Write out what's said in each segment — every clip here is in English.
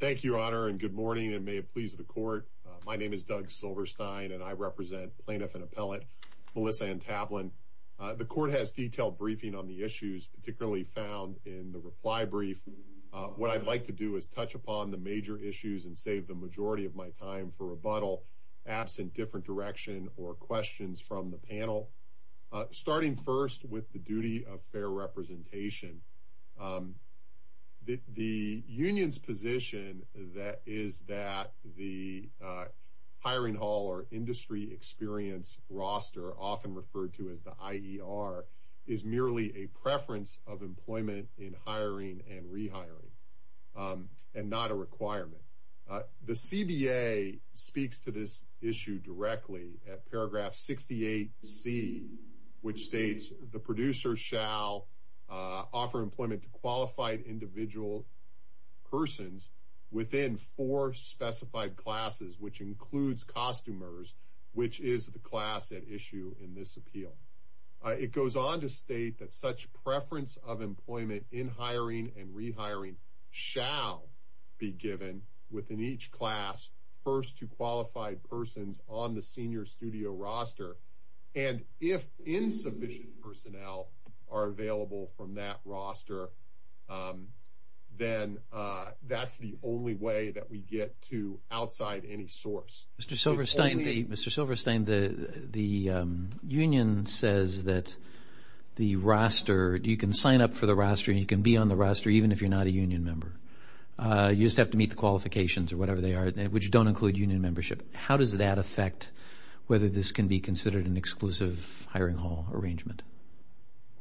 Thank you, Your Honor, and good morning and may it please the court. My name is Doug Silverstein and I represent plaintiff and appellate Melissa Antablin. The court has detailed briefing on the issues particularly found in the reply brief. What I'd like to do is touch upon the major issues and save the majority of my time for rebuttal absent different direction or questions from the panel. Starting first with the union's position that is that the hiring hall or industry experience roster, often referred to as the IER, is merely a preference of employment in hiring and rehiring and not a requirement. The CBA speaks to this issue directly at paragraph 68C, which states the producer shall offer employment to persons within four specified classes, which includes costumers, which is the class at issue in this appeal. It goes on to state that such preference of employment in hiring and rehiring shall be given within each class first to qualified persons on the senior studio roster. And if insufficient personnel are available from that roster, then that's the only way that we get to outside any source. Mr. Silverstein, the union says that the roster, you can sign up for the roster, you can be on the roster even if you're not a union member. You just have to meet the qualifications or whatever they are, which don't include union membership. How does that affect whether this can be considered an exclusive hiring hall arrangement?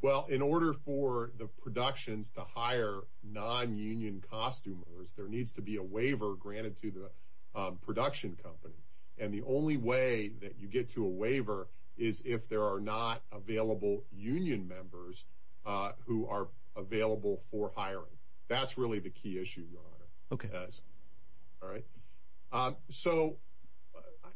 Well, in order for the productions to hire non-union costumers, there needs to be a waiver granted to the production company. And the only way that you get to a waiver is if there are not available union members who are available for hiring. That's really the key issue, Your Honor. Okay. All right? So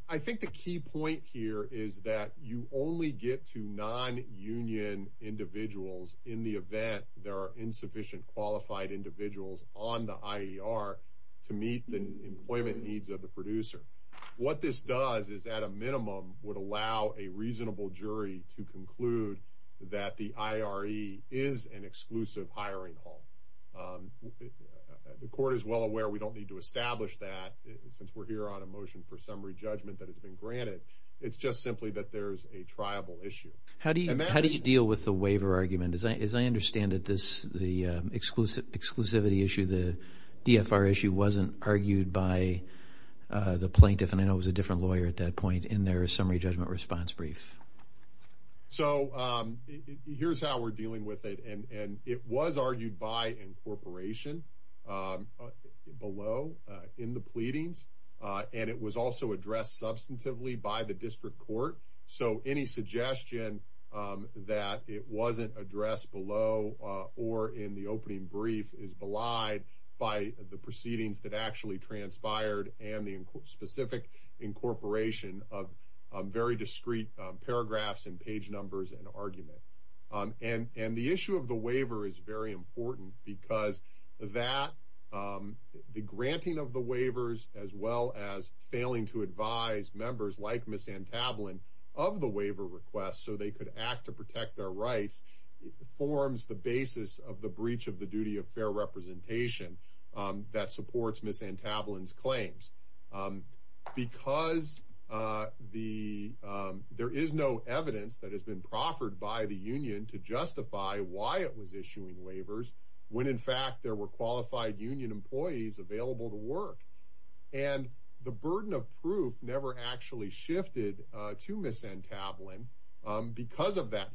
I think the key point here is that you only get to non-union individuals in the event there are insufficient qualified individuals on the IER to meet the employment needs of the producer. What this does is at a minimum would allow a reasonable jury to conclude that the IRE is an exclusive hiring hall. The court is well aware we don't need to establish that since we're here on a motion for summary judgment that has been How do you deal with the waiver argument? As I understand it, the exclusivity issue, the DFR issue, wasn't argued by the plaintiff, and I know it was a different lawyer at that point, in their summary judgment response brief. So here's how we're dealing with it. And it was argued by incorporation below in the pleadings, and it was also addressed substantively by the district court. So any suggestion that it wasn't addressed below or in the opening brief is belied by the proceedings that actually transpired and the specific incorporation of very discreet paragraphs and page numbers and argument. And the issue of the waiver is very important because that the granting of the waivers, as well as failing to advise members like Ms. Antablon of the waiver request so they could act to protect their rights, forms the basis of the breach of the duty of fair representation that supports Ms. Antablon's claims. Because there is no evidence that has been proffered by the union to justify why it was issuing waivers when, in fact, there were qualified union employees available to work. And the burden of proof never actually shifted to Ms. Antablon because of that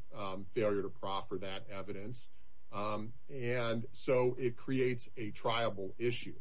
failure to proffer that evidence. And so it creates a triable issue.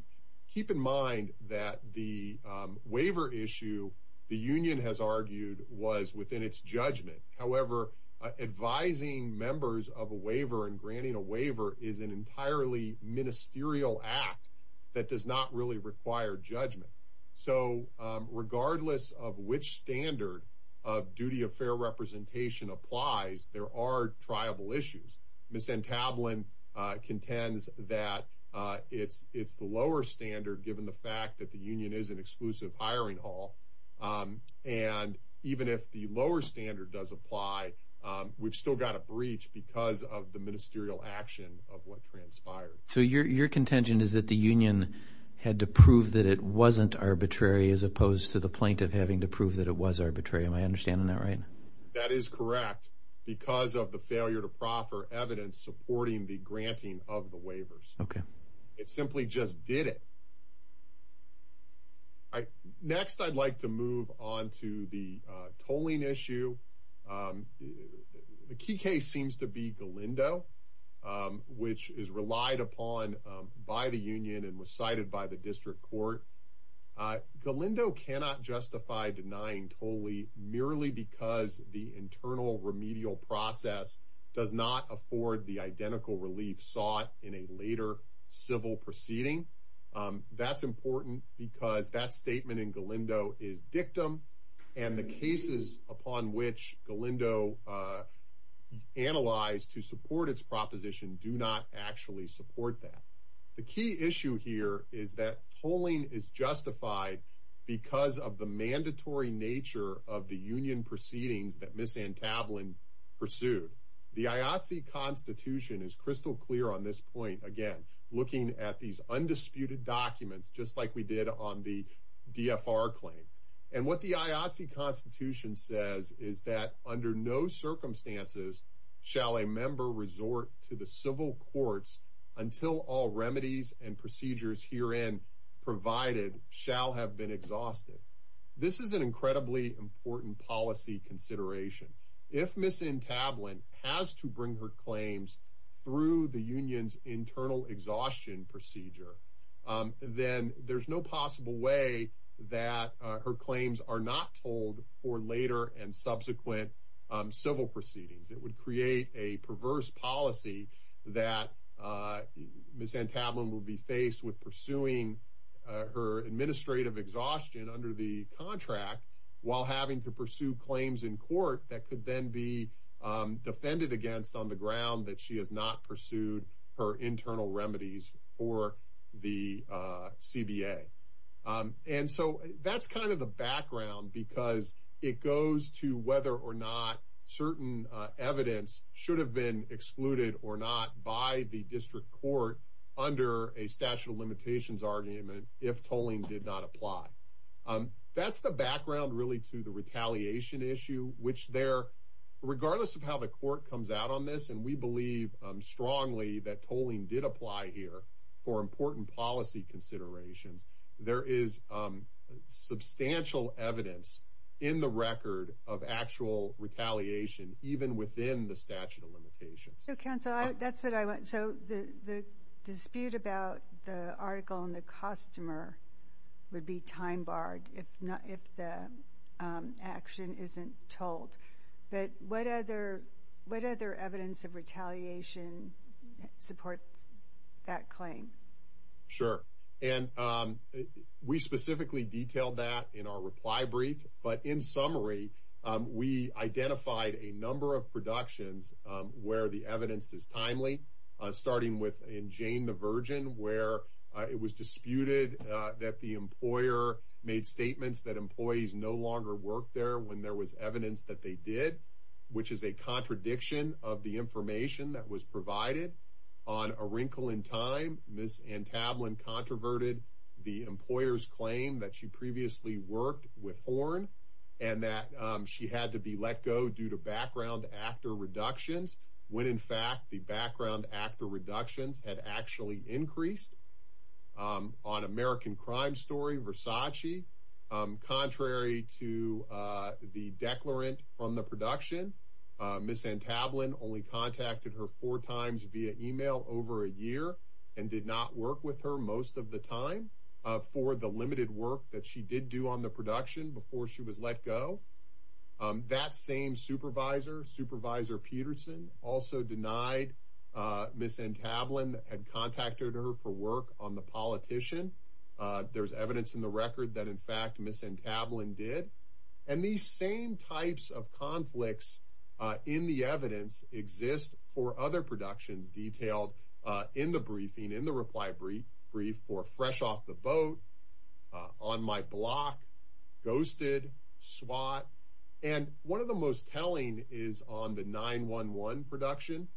Keep in mind that the waiver issue the union has argued was within its jurisdiction. So granting members of a waiver and granting a waiver is an entirely ministerial act that does not really require judgment. So regardless of which standard of duty of fair representation applies, there are triable issues. Ms. Antablon contends that it's the lower standard given the fact that the union is an exclusive hiring hall. And even if the lower standard does apply, we've still got a breach because of the ministerial action of what transpired. So your contention is that the union had to prove that it wasn't arbitrary as opposed to the plaintiff having to prove that it was arbitrary. Am I understanding that right? That is correct because of the failure to proffer evidence supporting the granting of the waivers. It simply just did it. All right. Next, I'd like to move on to the tolling issue. The key case seems to be Galindo, which is relied upon by the union and was cited by the district court. Galindo cannot justify denying tolling merely because the internal remedial process does not afford the tolling. That's important because that statement in Galindo is dictum and the cases upon which Galindo analyzed to support its proposition do not actually support that. The key issue here is that tolling is justified because of the mandatory nature of the union proceedings that Ms. Antablon pursued. The IATSE Constitution is crystal clear on this point. Again, looking at these undisputed documents, just like we did on the DFR claim and what the IATSE Constitution says is that under no circumstances shall a member resort to the civil courts until all remedies and procedures herein provided shall have been exhausted. This is an incredibly important policy consideration. If Ms. Antablon has to bring her claims through the union's internal exhaustion procedure, then there's no possible way that her claims are not told for later and subsequent civil proceedings. It would create a perverse policy that Ms. Antablon will be faced with pursuing her administrative exhaustion under the contract while having to pursue claims in court that could then be defended against on the ground that she has not pursued her internal remedies for the CBA. And so that's kind of the background because it goes to whether or not certain evidence should have been excluded or not by the district court under a statute of limitations argument if tolling did not apply. That's the background, really, to the retaliation issue, which there, regardless of how the court comes out on this, and we believe strongly that tolling did apply here for important policy considerations, there is substantial evidence in the record of actual retaliation even within the statute of limitations. So, counsel, that's what I want. So the dispute about the article and the customer would be time barred if the action isn't told. But what other evidence of retaliation supports that claim? Sure. And we specifically detailed that in our reply brief. But in summary, we identified a number of productions where the evidence is timely, starting with in Jane the Virgin, where it was disputed that the employer made statements that employees no longer worked there when there was evidence that they did, which is a contradiction of the information that was provided. On A Wrinkle in Time, Ms. Antablon controverted the employer's claim that she previously worked with Horn and that she had to be let go due to background actor reductions when, in fact, the background actor reductions had actually increased. On American Crime Story, Versace, contrary to the declarant from the production, Ms. Antablon only contacted her four times via email over a year and did not work with her most of the time for the work that she did do on the production before she was let go. That same supervisor, Supervisor Peterson, also denied Ms. Antablon had contacted her for work on The Politician. There's evidence in the record that, in fact, Ms. Antablon did. And these same types of conflicts in the evidence exist for other productions detailed in the briefing, in the reply brief for Fresh Off the Boat, On My Block, Ghosted, SWAT. And one of the most telling is on the 9-1-1 production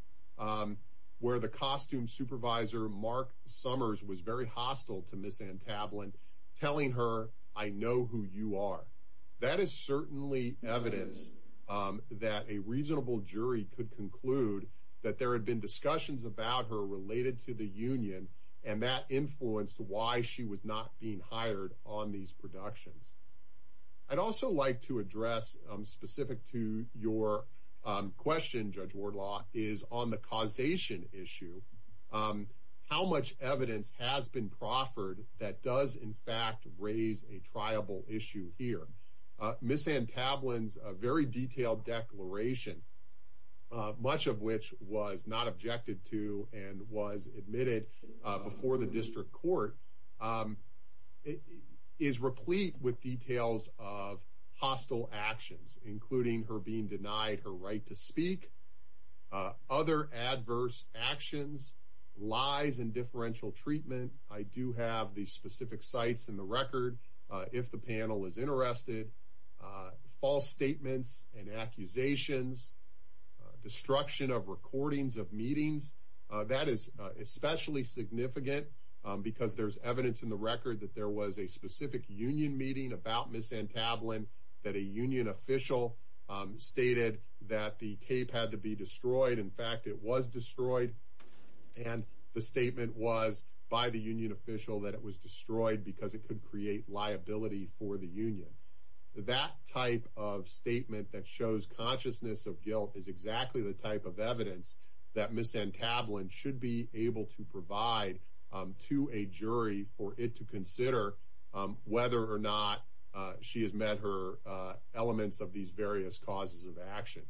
where the costume supervisor, Mark Summers, was very hostile to Ms. Antablon, telling her, I know who you are. That is certainly evidence that a reasonable jury could conclude that there had been discussions about her related to the union and that influenced why she was not being hired on these productions. I'd also like to address, specific to your question, Judge Wardlaw, is on the causation issue, how much evidence has been proffered that does, in fact, raise a triable issue here. Ms. Antablon's very detailed declaration, much of which was not objected to and was admitted before the district court, is replete with details of hostile actions, including her being denied her right to speak, other adverse actions, lies and differential treatment. I do have the specific sites in the record, if the statements and accusations, destruction of recordings of meetings, that is especially significant because there's evidence in the record that there was a specific union meeting about Ms. Antablon that a union official stated that the tape had to be destroyed. In fact, it was destroyed. And the statement was by the union official that it was destroyed because it could create liability for the union. That type of statement that shows consciousness of guilt is exactly the type of evidence that Ms. Antablon should be able to provide to a jury for it to consider whether or not she has met her elements of these various causes of action.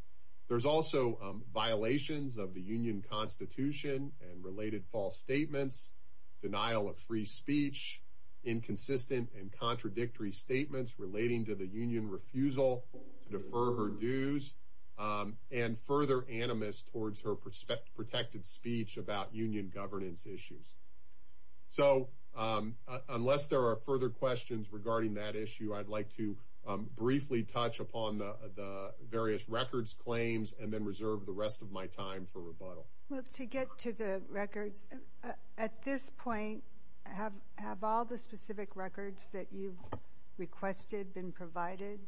There's also violations of the union constitution and related false statements, denial of free speech, inconsistent and contradictory statements relating to the union refusal to defer her dues, and further animus towards her protected speech about union governance issues. So unless there are further questions regarding that issue, I'd like to briefly touch upon the various records claims and then reserve the rest of my time for rebuttal. Well, to get to the records, at this point, have all the specific records that you've requested been provided?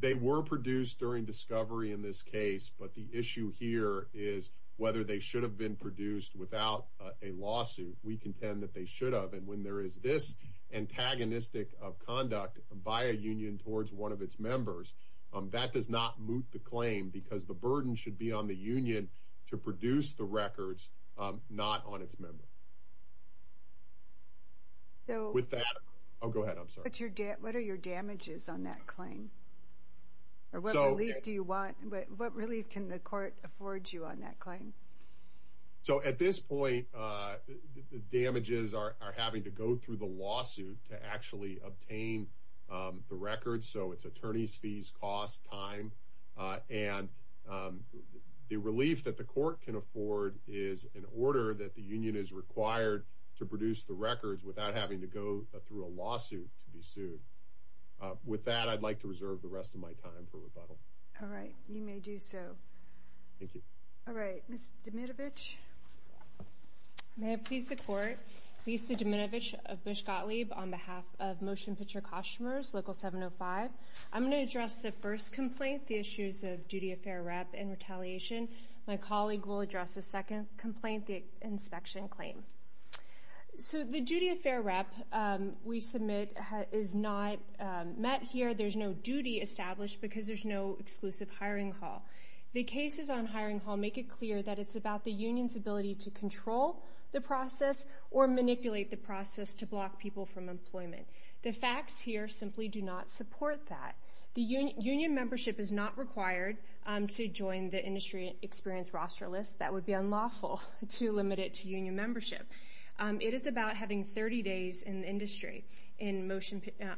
They were produced during discovery in this case, but the issue here is whether they should have been produced without a lawsuit. We contend that they should have. And when there is this antagonistic of conduct by a union towards one of its members, that does not moot the claim because the burden should be on the union to produce the records, not on its member. What are your damages on that claim? What relief can the court afford you on that claim? So at this point, the damages are having to go through the lawsuit to actually obtain the records. So it's attorneys' fees, cost, time. And the relief that the court can afford is an order that the union is required to produce the records without having to go through a lawsuit to be sued. With that, I'd like to reserve the rest of my time for rebuttal. All right. You may do so. Thank you. All right. Ms. Dmitrovich? May I please the court? Lisa Dmitrovich of Bush Gottlieb on behalf of Motion Picture Costumers, Local 705. I'm going to address the first complaint, the issues of duty of fair rep and retaliation. My colleague will address the second complaint, the inspection claim. So the duty of fair rep we submit is not met here. There's no duty established because there's no exclusive hiring hall. The cases on hiring hall make it clear that it's about the union's ability to control the process or manipulate the process to block people from employment. The facts here simply do not support that. Union membership is not required to join the industry experience roster list. That would be unlawful to limit it to union membership. It is about having 30 days in the industry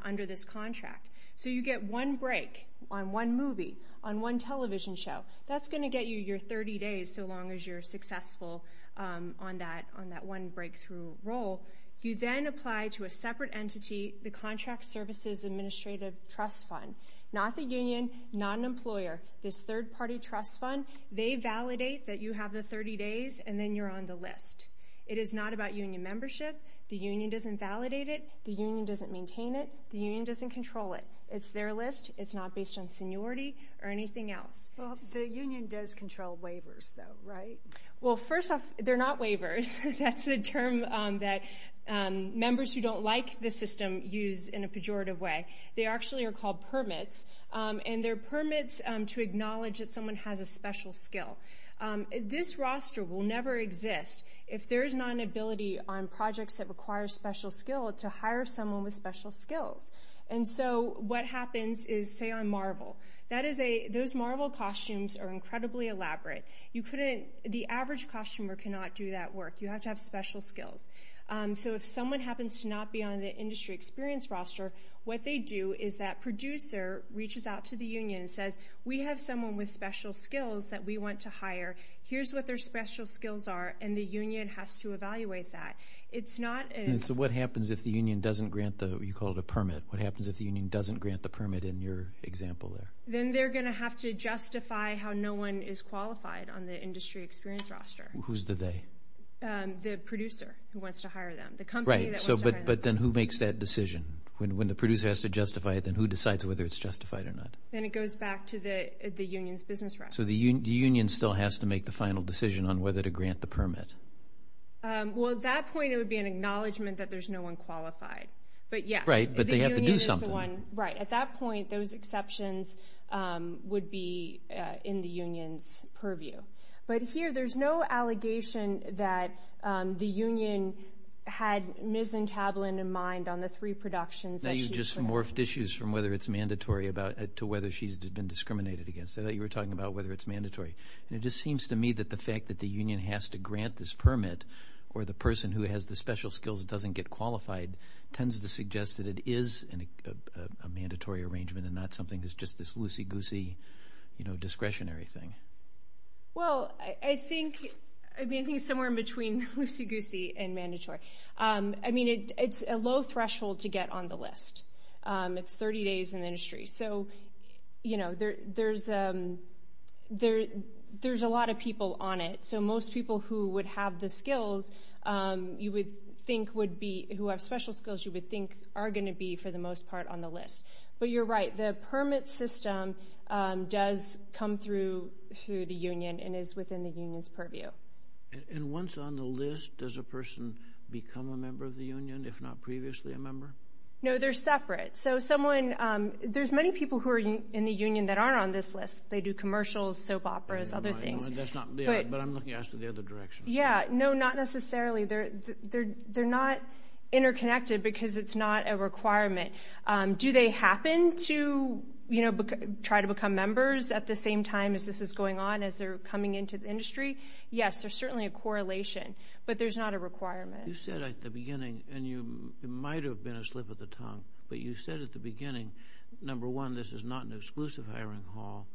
under this contract. So you get one break on one movie, on one television show. That's going to get you your 30 days so long as you're successful on that one breakthrough role. You then apply to a separate entity, the Contract Services Administrative Trust Fund. Not the union, not an employer. This third-party trust fund, they validate that you have the 30 days, and then you're on the list. It is not about union membership. The union doesn't validate it. The union doesn't maintain it. The union doesn't control it. It's their list. It's not based on seniority or anything else. Well, the union does control waivers, though, right? Well, first off, they're not waivers. That's a term that members who don't like the system use in a pejorative way. They actually are called permits, and they're permits to acknowledge that someone has a special skill. This roster will never exist if there is not an ability on projects that require special skill to hire someone with special skills. And so what happens is, say, on Marvel, those Marvel costumes are incredibly elaborate. The average costumer cannot do that work. You have to have special skills. So if someone happens to not be on the industry experience roster, what they do is that producer reaches out to the union and says, we have someone with special skills that we want to hire. Here's what their special skills are, and the union has to evaluate that. So what happens if the union doesn't grant the, you call it a permit, what happens if the union doesn't grant the permit in your example there? Then they're going to have to justify how no one is qualified on the industry experience roster. Who's the they? The producer who wants to hire them. Right, but then who makes that decision? When the producer has to justify it, then who decides whether it's justified or not? Then it goes back to the union's business record. So the union still has to make the final decision on whether to grant the permit. Well, at that point it would be an acknowledgment that there's no one qualified. Right, but they have to do something. Right, at that point those exceptions would be in the union's purview. But here there's no allegation that the union had Ms. Tablin in mind on the three productions. Now you've just morphed issues from whether it's mandatory to whether she's been discriminated against. I thought you were talking about whether it's mandatory. And it just seems to me that the fact that the union has to grant this permit or the person who has the special skills doesn't get qualified tends to suggest that it is a mandatory arrangement and not something that's just this loosey-goosey discretionary thing. Well, I think somewhere in between loosey-goosey and mandatory. I mean, it's a low threshold to get on the list. It's 30 days in the industry. So, you know, there's a lot of people on it. So most people who would have the skills you would think would be, who have special skills you would think are going to be for the most part on the list. But you're right. The permit system does come through the union and is within the union's purview. And once on the list, does a person become a member of the union if not previously a member? No, they're separate. So someone, there's many people who are in the union that aren't on this list. They do commercials, soap operas, other things. But I'm looking at it from the other direction. Yeah, no, not necessarily. They're not interconnected because it's not a requirement. Do they happen to, you know, try to become members at the same time as this is going on, as they're coming into the industry? Yes, there's certainly a correlation, but there's not a requirement. You said at the beginning, and it might have been a slip of the tongue, but you said at the beginning, number one, this is not an exclusive hiring hall.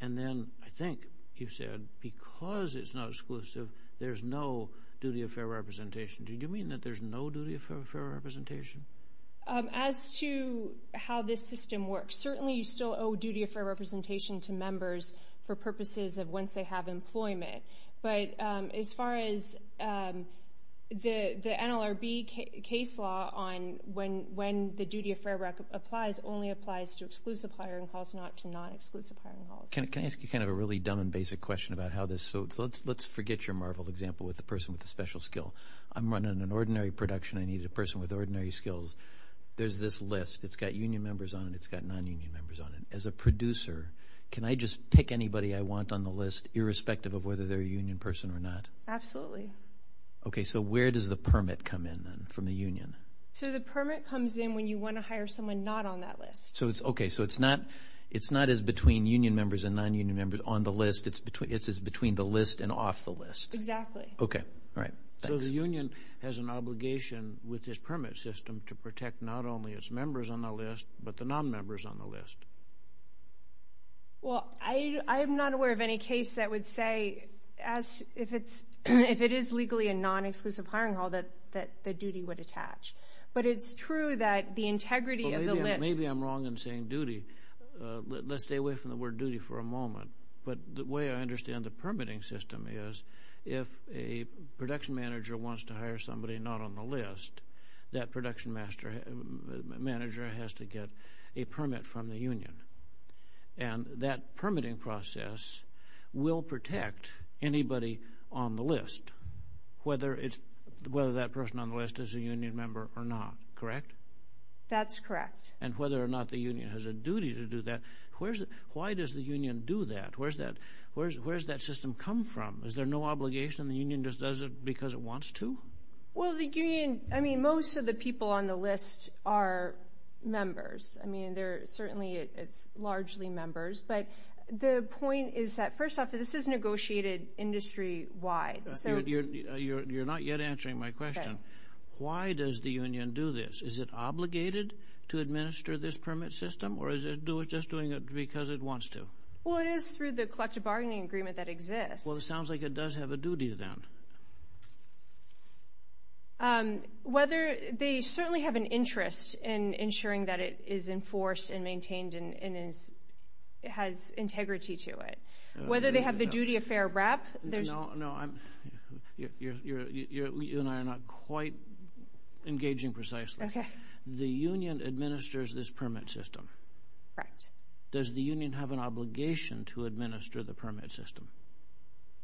And then I think you said because it's not exclusive, there's no duty of fair representation. Did you mean that there's no duty of fair representation? As to how this system works, certainly you still owe duty of fair representation to members for purposes of once they have employment. But as far as the NLRB case law on when the duty of fair rep applies, only applies to exclusive hiring halls, not to non-exclusive hiring halls. Can I ask you kind of a really dumb and basic question about how this works? Let's forget your Marvel example with the person with the special skill. I'm running an ordinary production. I need a person with ordinary skills. There's this list. It's got union members on it. It's got non-union members on it. As a producer, can I just pick anybody I want on the list, irrespective of whether they're a union person or not? Absolutely. Okay. So where does the permit come in then from the union? So the permit comes in when you want to hire someone not on that list. Okay. So it's not as between union members and non-union members on the list. It's as between the list and off the list. Exactly. Okay. All right. So the union has an obligation with this permit system to protect not only its members on the list, but the non-members on the list. Well, I am not aware of any case that would say, if it is legally a non-exclusive hiring hall, that the duty would attach. But it's true that the integrity of the list. Maybe I'm wrong in saying duty. Let's stay away from the word duty for a moment. But the way I understand the permitting system is if a production manager wants to hire somebody not on the list, that production manager has to get a permit from the union. And that permitting process will protect anybody on the list, whether that person on the list is a union member or not, correct? That's correct. And whether or not the union has a duty to do that, why does the union do that? Where does that system come from? Is there no obligation? The union just does it because it wants to? Well, the union, I mean, most of the people on the list are members. I mean, certainly it's largely members. But the point is that, first off, this is negotiated industry-wide. You're not yet answering my question. Why does the union do this? Is it obligated to administer this permit system, or is it just doing it because it wants to? Well, it is through the collective bargaining agreement that exists. Well, it sounds like it does have a duty then. Whether they certainly have an interest in ensuring that it is enforced and maintained and has integrity to it. Whether they have the duty of fair wrap. No, you and I are not quite engaging precisely. Okay. The union administers this permit system. Correct. Does the union have an obligation to administer the permit system?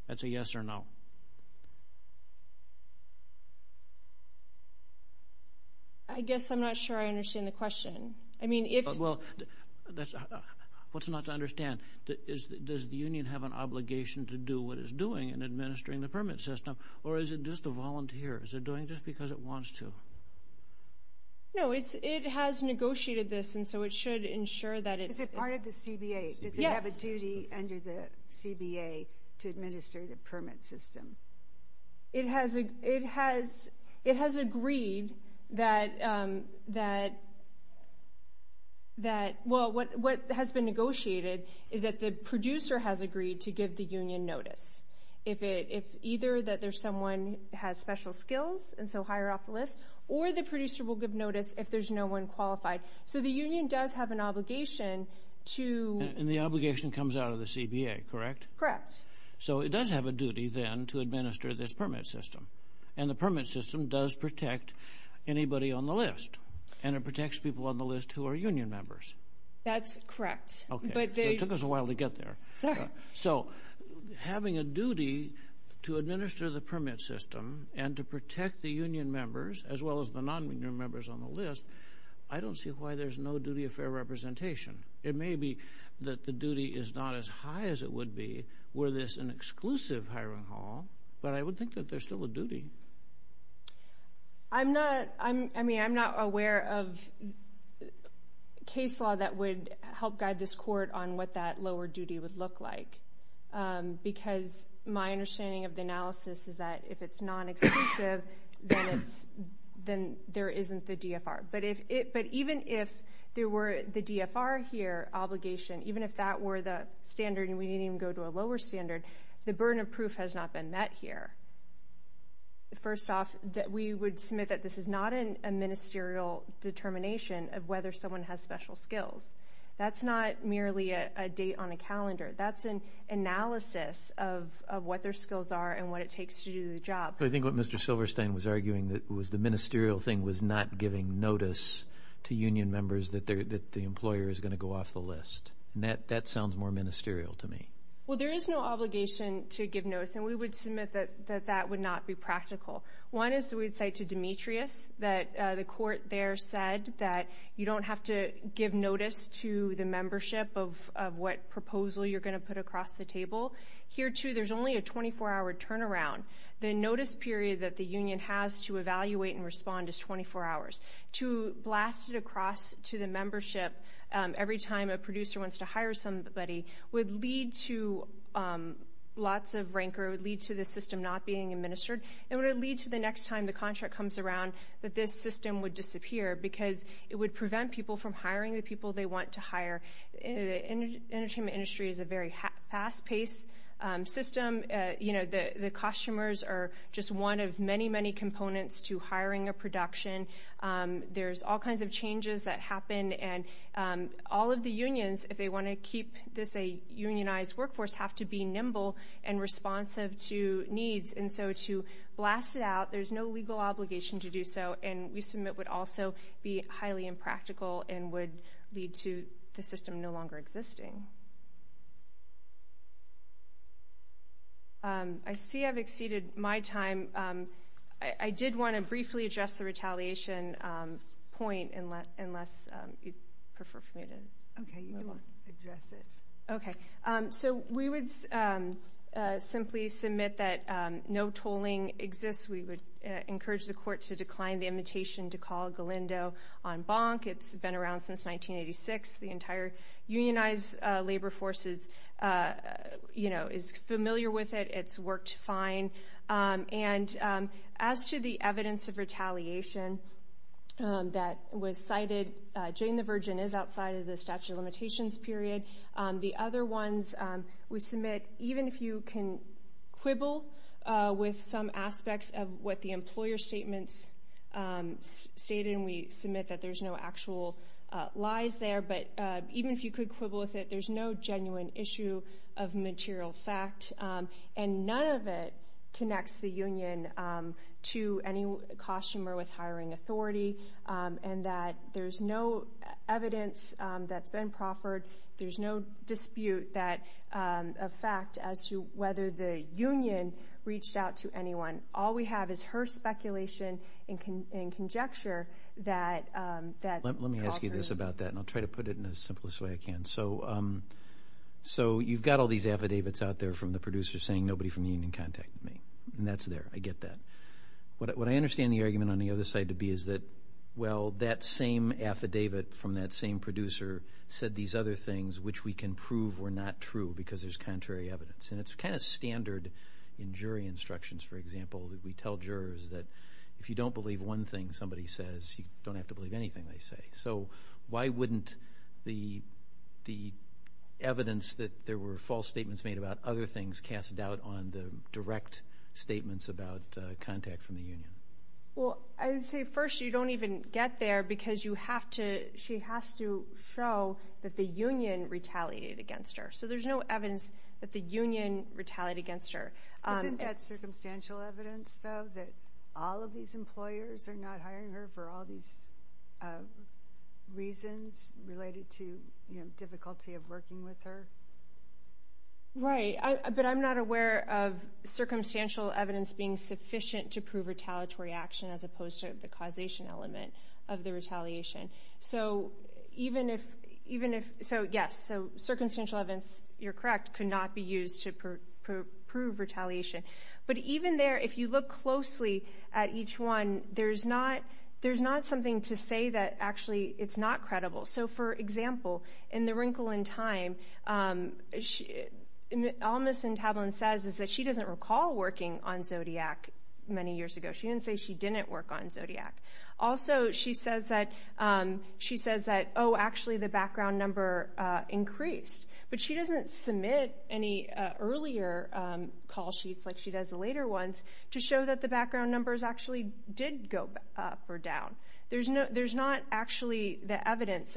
That's a yes or no. I guess I'm not sure I understand the question. Well, what's not to understand? Does the union have an obligation to do what it's doing in administering the permit system, or is it just a volunteer? Is it doing it just because it wants to? No, it has negotiated this, and so it should ensure that it is. Is it part of the CBA? Yes. Does it have a duty under the CBA to administer the permit system? It has agreed that, well, what has been negotiated is that the producer has agreed to give the union notice. Either that someone has special skills, and so hire off the list, or the producer will give notice if there's no one qualified. So the union does have an obligation to... And the obligation comes out of the CBA, correct? Correct. So it does have a duty then to administer this permit system, and the permit system does protect anybody on the list, and it protects people on the list who are union members. That's correct. Okay. It took us a while to get there. Sorry. So having a duty to administer the permit system and to protect the union members as well as the non-union members on the list, I don't see why there's no duty of fair representation. It may be that the duty is not as high as it would be were this an exclusive hiring hall, but I would think that there's still a duty. I'm not... I mean, I'm not aware of a case law that would help guide this court on what that lower duty would look like, because my understanding of the analysis is that if it's non-exclusive, then there isn't the DFR. But even if there were the DFR here obligation, even if that were the standard and we didn't even go to a lower standard, the burden of proof has not been met here. First off, we would submit that this is not a ministerial determination of whether someone has special skills. That's not merely a date on a calendar. That's an analysis of what their skills are and what it takes to do the job. I think what Mr. Silverstein was arguing was the ministerial thing was not giving notice to union members that the employer is going to go off the list, and that sounds more ministerial to me. Well, there is no obligation to give notice, and we would submit that that would not be practical. One is that we would say to Demetrius that the court there said that you don't have to give notice to the membership of what proposal you're going to put across the table. Here, too, there's only a 24-hour turnaround. The notice period that the union has to evaluate and respond is 24 hours. To blast it across to the membership every time a producer wants to hire somebody would lead to lots of rancor, would lead to the system not being administered, and would lead to the next time the contract comes around that this system would disappear because it would prevent people from hiring the people they want to hire. The entertainment industry is a very fast-paced system. The costumers are just one of many, many components to hiring a production. There's all kinds of changes that happen, and all of the unions, if they want to keep this a unionized workforce, have to be nimble and responsive to needs. And so to blast it out, there's no legal obligation to do so, and we submit would also be highly impractical and would lead to the system no longer existing. I see I've exceeded my time. I did want to briefly address the retaliation point, unless you'd prefer for me to move on. Okay, you can address it. Okay. So we would simply submit that no tolling exists. We would encourage the court to decline the invitation to call Galindo on bonk. It's been around since 1986. The entire unionized labor force is familiar with it. It's worked fine. And as to the evidence of retaliation that was cited, Jane the Virgin is outside of the statute of limitations period. The other ones we submit, even if you can quibble with some aspects of what the employer statements stated, and we submit that there's no actual lies there, but even if you could quibble with it, there's no genuine issue of material fact. And none of it connects the union to any costumer with hiring authority, and that there's no evidence that's been proffered. There's no dispute of fact as to whether the union reached out to anyone. All we have is her speculation and conjecture. Let me ask you this about that, and I'll try to put it in the simplest way I can. So you've got all these affidavits out there from the producers saying nobody from the union contacted me, and that's there. I get that. What I understand the argument on the other side to be is that, well, that same affidavit from that same producer said these other things, which we can prove were not true because there's contrary evidence. And it's kind of standard in jury instructions, for example, that we tell jurors that if you don't believe one thing somebody says, you don't have to believe anything they say. So why wouldn't the evidence that there were false statements made about other things cast doubt on the direct statements about contact from the union? Well, I would say first you don't even get there because you have to – she has to show that the union retaliated against her. So there's no evidence that the union retaliated against her. Isn't that circumstantial evidence, though, that all of these employers are not hiring her for all these reasons related to difficulty of working with her? Right. But I'm not aware of circumstantial evidence being sufficient to prove retaliatory action as opposed to the causation element of the retaliation. So even if – so, yes, circumstantial evidence, you're correct, could not be used to prove retaliation. But even there, if you look closely at each one, there's not something to say that actually it's not credible. So, for example, in The Wrinkle in Time, all Ms. Entablen says is that she doesn't recall working on Zodiac many years ago. She didn't say she didn't work on Zodiac. Also, she says that, oh, actually the background number increased. But she doesn't submit any earlier call sheets like she does the later ones to show that the background numbers actually did go up or down. There's not actually the evidence.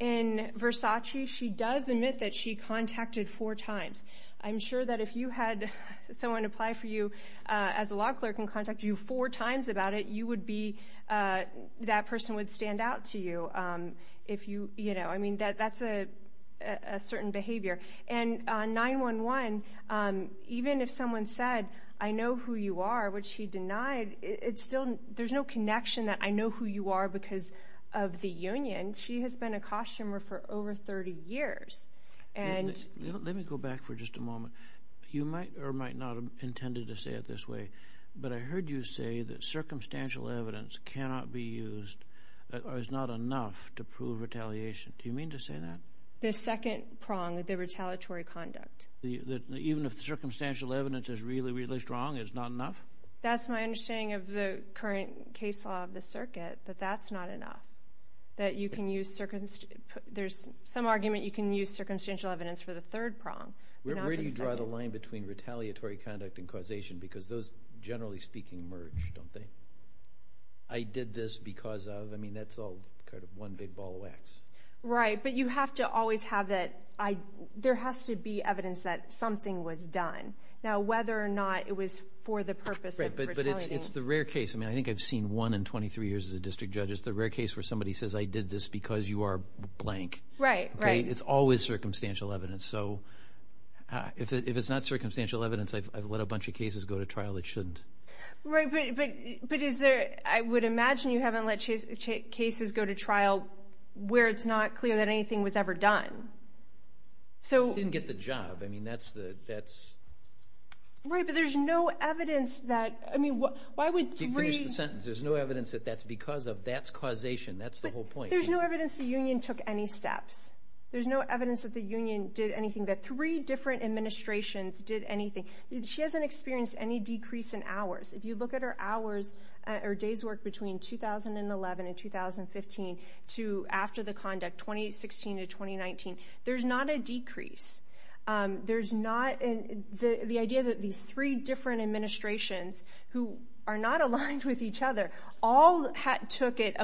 In Versace, she does admit that she contacted four times. I'm sure that if you had someone apply for you as a law clerk and contact you four times about it, you would be – that person would stand out to you. I mean, that's a certain behavior. And 9-1-1, even if someone said, I know who you are, which she denied, there's no connection that I know who you are because of the union. She has been a costumer for over 30 years. Let me go back for just a moment. You might or might not have intended to say it this way, but I heard you say that circumstantial evidence cannot be used or is not enough to prove retaliation. Do you mean to say that? The second prong, the retaliatory conduct. Even if the circumstantial evidence is really, really strong, it's not enough? That's my understanding of the current case law of the circuit, that that's not enough, that you can use – there's some argument you can use circumstantial evidence for the third prong. Where do you draw the line between retaliatory conduct and causation? Because those, generally speaking, merge, don't they? I did this because of – I mean, that's all kind of one big ball of wax. Right, but you have to always have that – there has to be evidence that something was done. Now, whether or not it was for the purpose of retaliating. But it's the rare case – I mean, I think I've seen one in 23 years as a district judge. It's the rare case where somebody says, I did this because you are blank. Right, right. It's always circumstantial evidence. So if it's not circumstantial evidence, I've let a bunch of cases go to trial that shouldn't. Right, but is there – I would imagine you haven't let cases go to trial where it's not clear that anything was ever done. I didn't get the job. I mean, that's the – that's – Right, but there's no evidence that – I mean, why would – Finish the sentence. There's no evidence that that's because of – that's causation. That's the whole point. There's no evidence the union took any steps. There's no evidence that the union did anything, that three different administrations did anything. She hasn't experienced any decrease in hours. If you look at her hours or days worked between 2011 and 2015 to after the conduct, 2016 to 2019, there's not a decrease. There's not – the idea that these three different administrations who are not aligned with each other all took it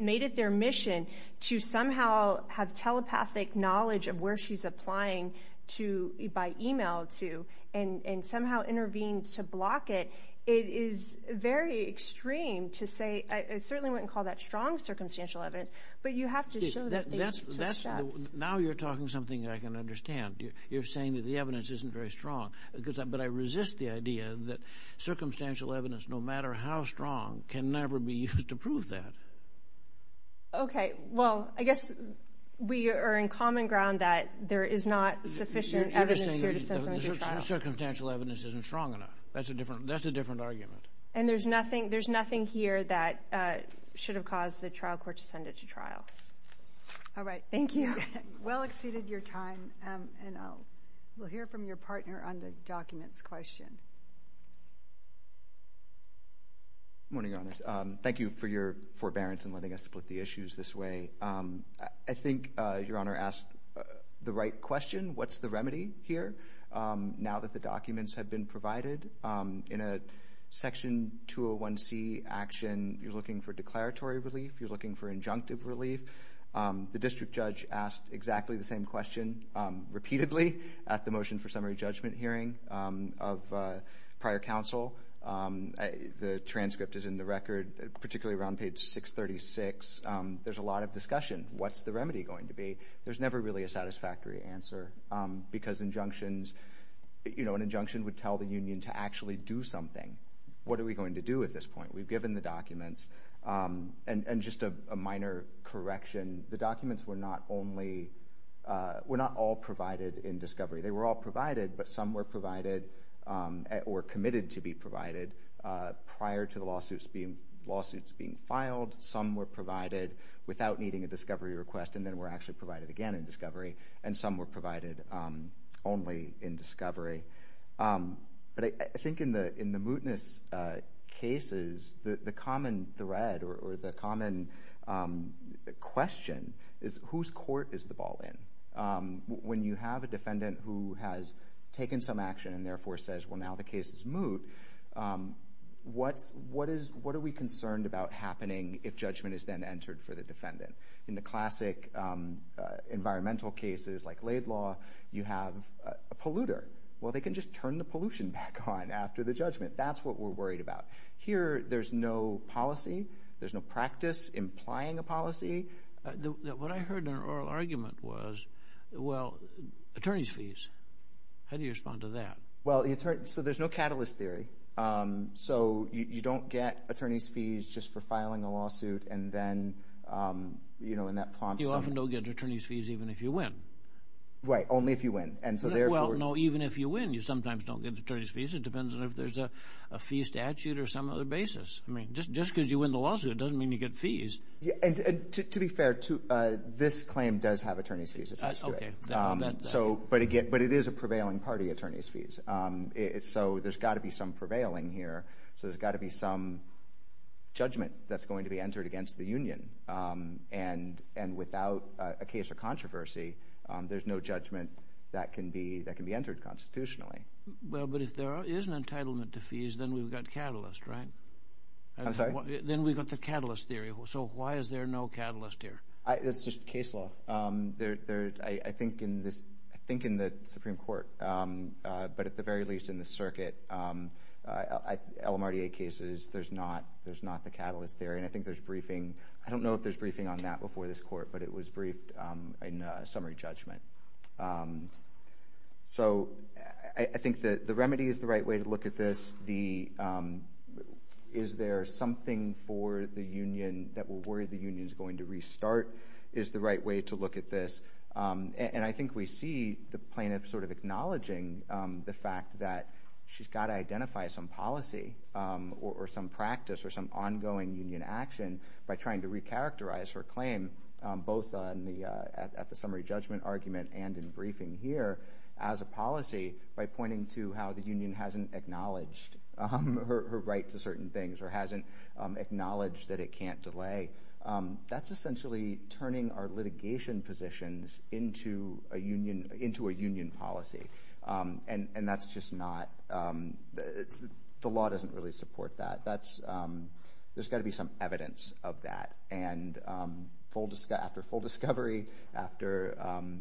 – made it their mission to somehow have telepathic knowledge of where she's applying to by email to and somehow intervened to block it, it is very extreme to say – I certainly wouldn't call that strong circumstantial evidence, but you have to show that they took steps. Now you're talking something that I can understand. You're saying that the evidence isn't very strong, but I resist the idea that circumstantial evidence, no matter how strong, can never be used to prove that. Okay. Well, I guess we are in common ground that there is not sufficient evidence here to send someone to trial. You're just saying the circumstantial evidence isn't strong enough. That's a different argument. And there's nothing here that should have caused the trial court to send it to trial. All right. Thank you. Well exceeded your time, and we'll hear from your partner on the documents question. Good morning, Your Honors. Thank you for your forbearance in letting us split the issues this way. I think Your Honor asked the right question. What's the remedy here now that the documents have been provided? In a Section 201c action, you're looking for declaratory relief. You're looking for injunctive relief. The district judge asked exactly the same question repeatedly at the motion for summary judgment hearing of prior counsel. The transcript is in the record, particularly around page 636. There's a lot of discussion. What's the remedy going to be? There's never really a satisfactory answer because injunctions, you know, an injunction would tell the union to actually do something. What are we going to do at this point? We've given the documents, and just a minor correction, the documents were not all provided in discovery. They were all provided, but some were provided or committed to be provided prior to the lawsuits being filed. Some were provided without needing a discovery request, and then were actually provided again in discovery, but I think in the mootness cases, the common thread or the common question is whose court is the ball in? When you have a defendant who has taken some action and therefore says, well, now the case is moot, what are we concerned about happening if judgment is then entered for the defendant? In the classic environmental cases like laid law, you have a polluter. Well, they can just turn the pollution back on after the judgment. That's what we're worried about. Here, there's no policy. There's no practice implying a policy. What I heard in an oral argument was, well, attorneys' fees. How do you respond to that? Well, so there's no catalyst theory. So you don't get attorneys' fees just for filing a lawsuit and then, you know, and that prompts them. You often don't get attorneys' fees even if you win. Right, only if you win. Well, no, even if you win, you sometimes don't get attorneys' fees. It depends on if there's a fee statute or some other basis. I mean, just because you win the lawsuit doesn't mean you get fees. To be fair, this claim does have attorneys' fees attached to it. Okay. But it is a prevailing party, attorneys' fees. So there's got to be some prevailing here. So there's got to be some judgment that's going to be entered against the union. And without a case of controversy, there's no judgment that can be entered constitutionally. Well, but if there is an entitlement to fees, then we've got catalyst, right? I'm sorry? Then we've got the catalyst theory. So why is there no catalyst here? It's just case law. I think in the Supreme Court, but at the very least in the circuit, LMRDA cases, there's not the catalyst theory. And I think there's briefing. I don't know if there's briefing on that before this court, but it was briefed in summary judgment. So I think the remedy is the right way to look at this. Is there something for the union that will worry the union is going to restart is the right way to look at this. And I think we see the plaintiff sort of acknowledging the fact that she's got to identify some policy or some practice or some ongoing union action by trying to recharacterize her claim both at the summary judgment argument and in briefing here as a policy by pointing to how the union hasn't acknowledged her right to certain things or hasn't acknowledged that it can't delay. That's essentially turning our litigation positions into a union policy. And that's just not – the law doesn't really support that. There's got to be some evidence of that. And after full discovery, after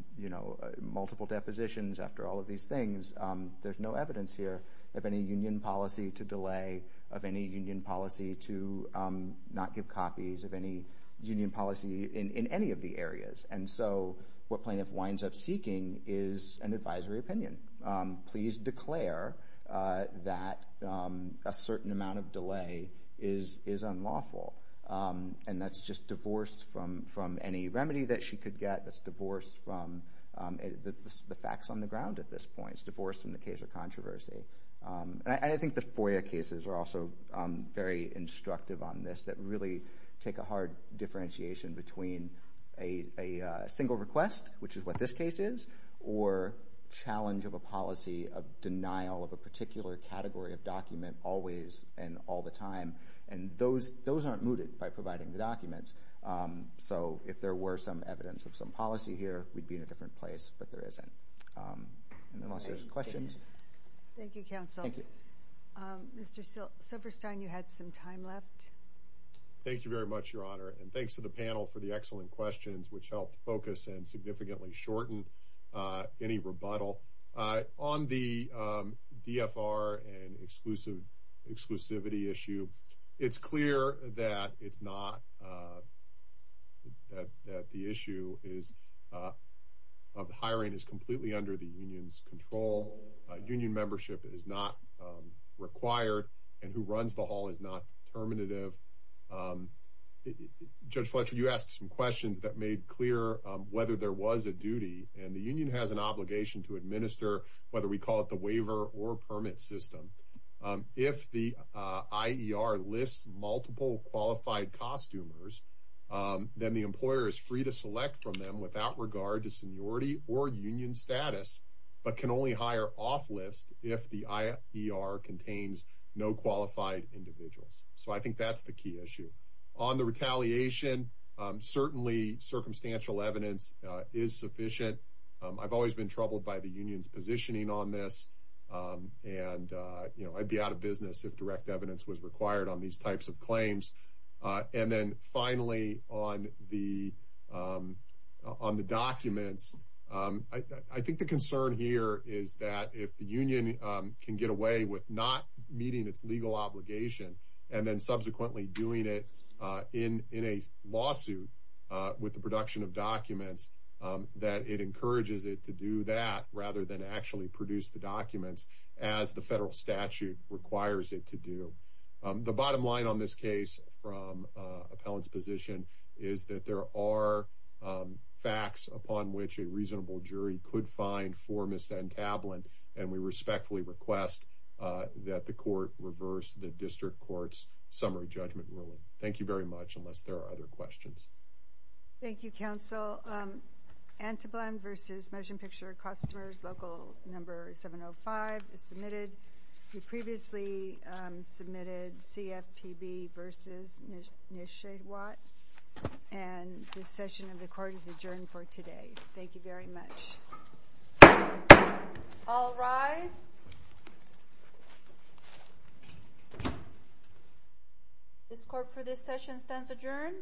multiple depositions, after all of these things, there's no evidence here of any union policy to delay, of any union policy to not give copies of any union policy in any of the areas. And so what plaintiff winds up seeking is an advisory opinion. Please declare that a certain amount of delay is unlawful. And that's just divorce from any remedy that she could get. That's divorce from the facts on the ground at this point. It's divorce from the case of controversy. And I think the FOIA cases are also very instructive on this, that really take a hard differentiation between a single request, which is what this case is, or challenge of a policy of denial of a particular category of document always and all the time. And those aren't mooted by providing the documents. So if there were some evidence of some policy here, we'd be in a different place, but there isn't. Unless there's questions. Thank you, Counsel. Thank you. Mr. Silverstein, you had some time left. Thank you very much, Your Honor, and thanks to the panel for the excellent questions, which helped focus and significantly shorten any rebuttal. On the DFR and exclusivity issue, it's clear that it's not, that the issue of hiring is completely under the union's control. Union membership is not required, and who runs the hall is not determinative. Judge Fletcher, you asked some questions that made clear whether there was a duty, and the union has an obligation to administer, whether we call it the waiver or permit system. If the IER lists multiple qualified costumers, then the employer is free to select from them without regard to seniority or union status, but can only hire off-list if the IER contains no qualified individuals. So I think that's the key issue. On the retaliation, certainly circumstantial evidence is sufficient. I've always been troubled by the union's positioning on this, and I'd be out of business if direct evidence was required on these types of claims. And then finally, on the documents, I think the concern here is that if the union can get away with not meeting its legal obligation and then subsequently doing it in a lawsuit with the production of documents, that it encourages it to do that rather than actually produce the documents as the federal statute requires it to do. The bottom line on this case from appellant's position is that there are facts upon which a reasonable jury could find for misentablant, and we respectfully request that the court reverse the district court's summary judgment ruling. Thank you very much, unless there are other questions. Thank you, counsel. Anteblend v. Motion Picture of Customers, Local No. 705 is submitted. We previously submitted CFPB v. Nish-Shade-Watt, and this session of the court is adjourned for today. Thank you very much. All rise. This court for this session stands adjourned.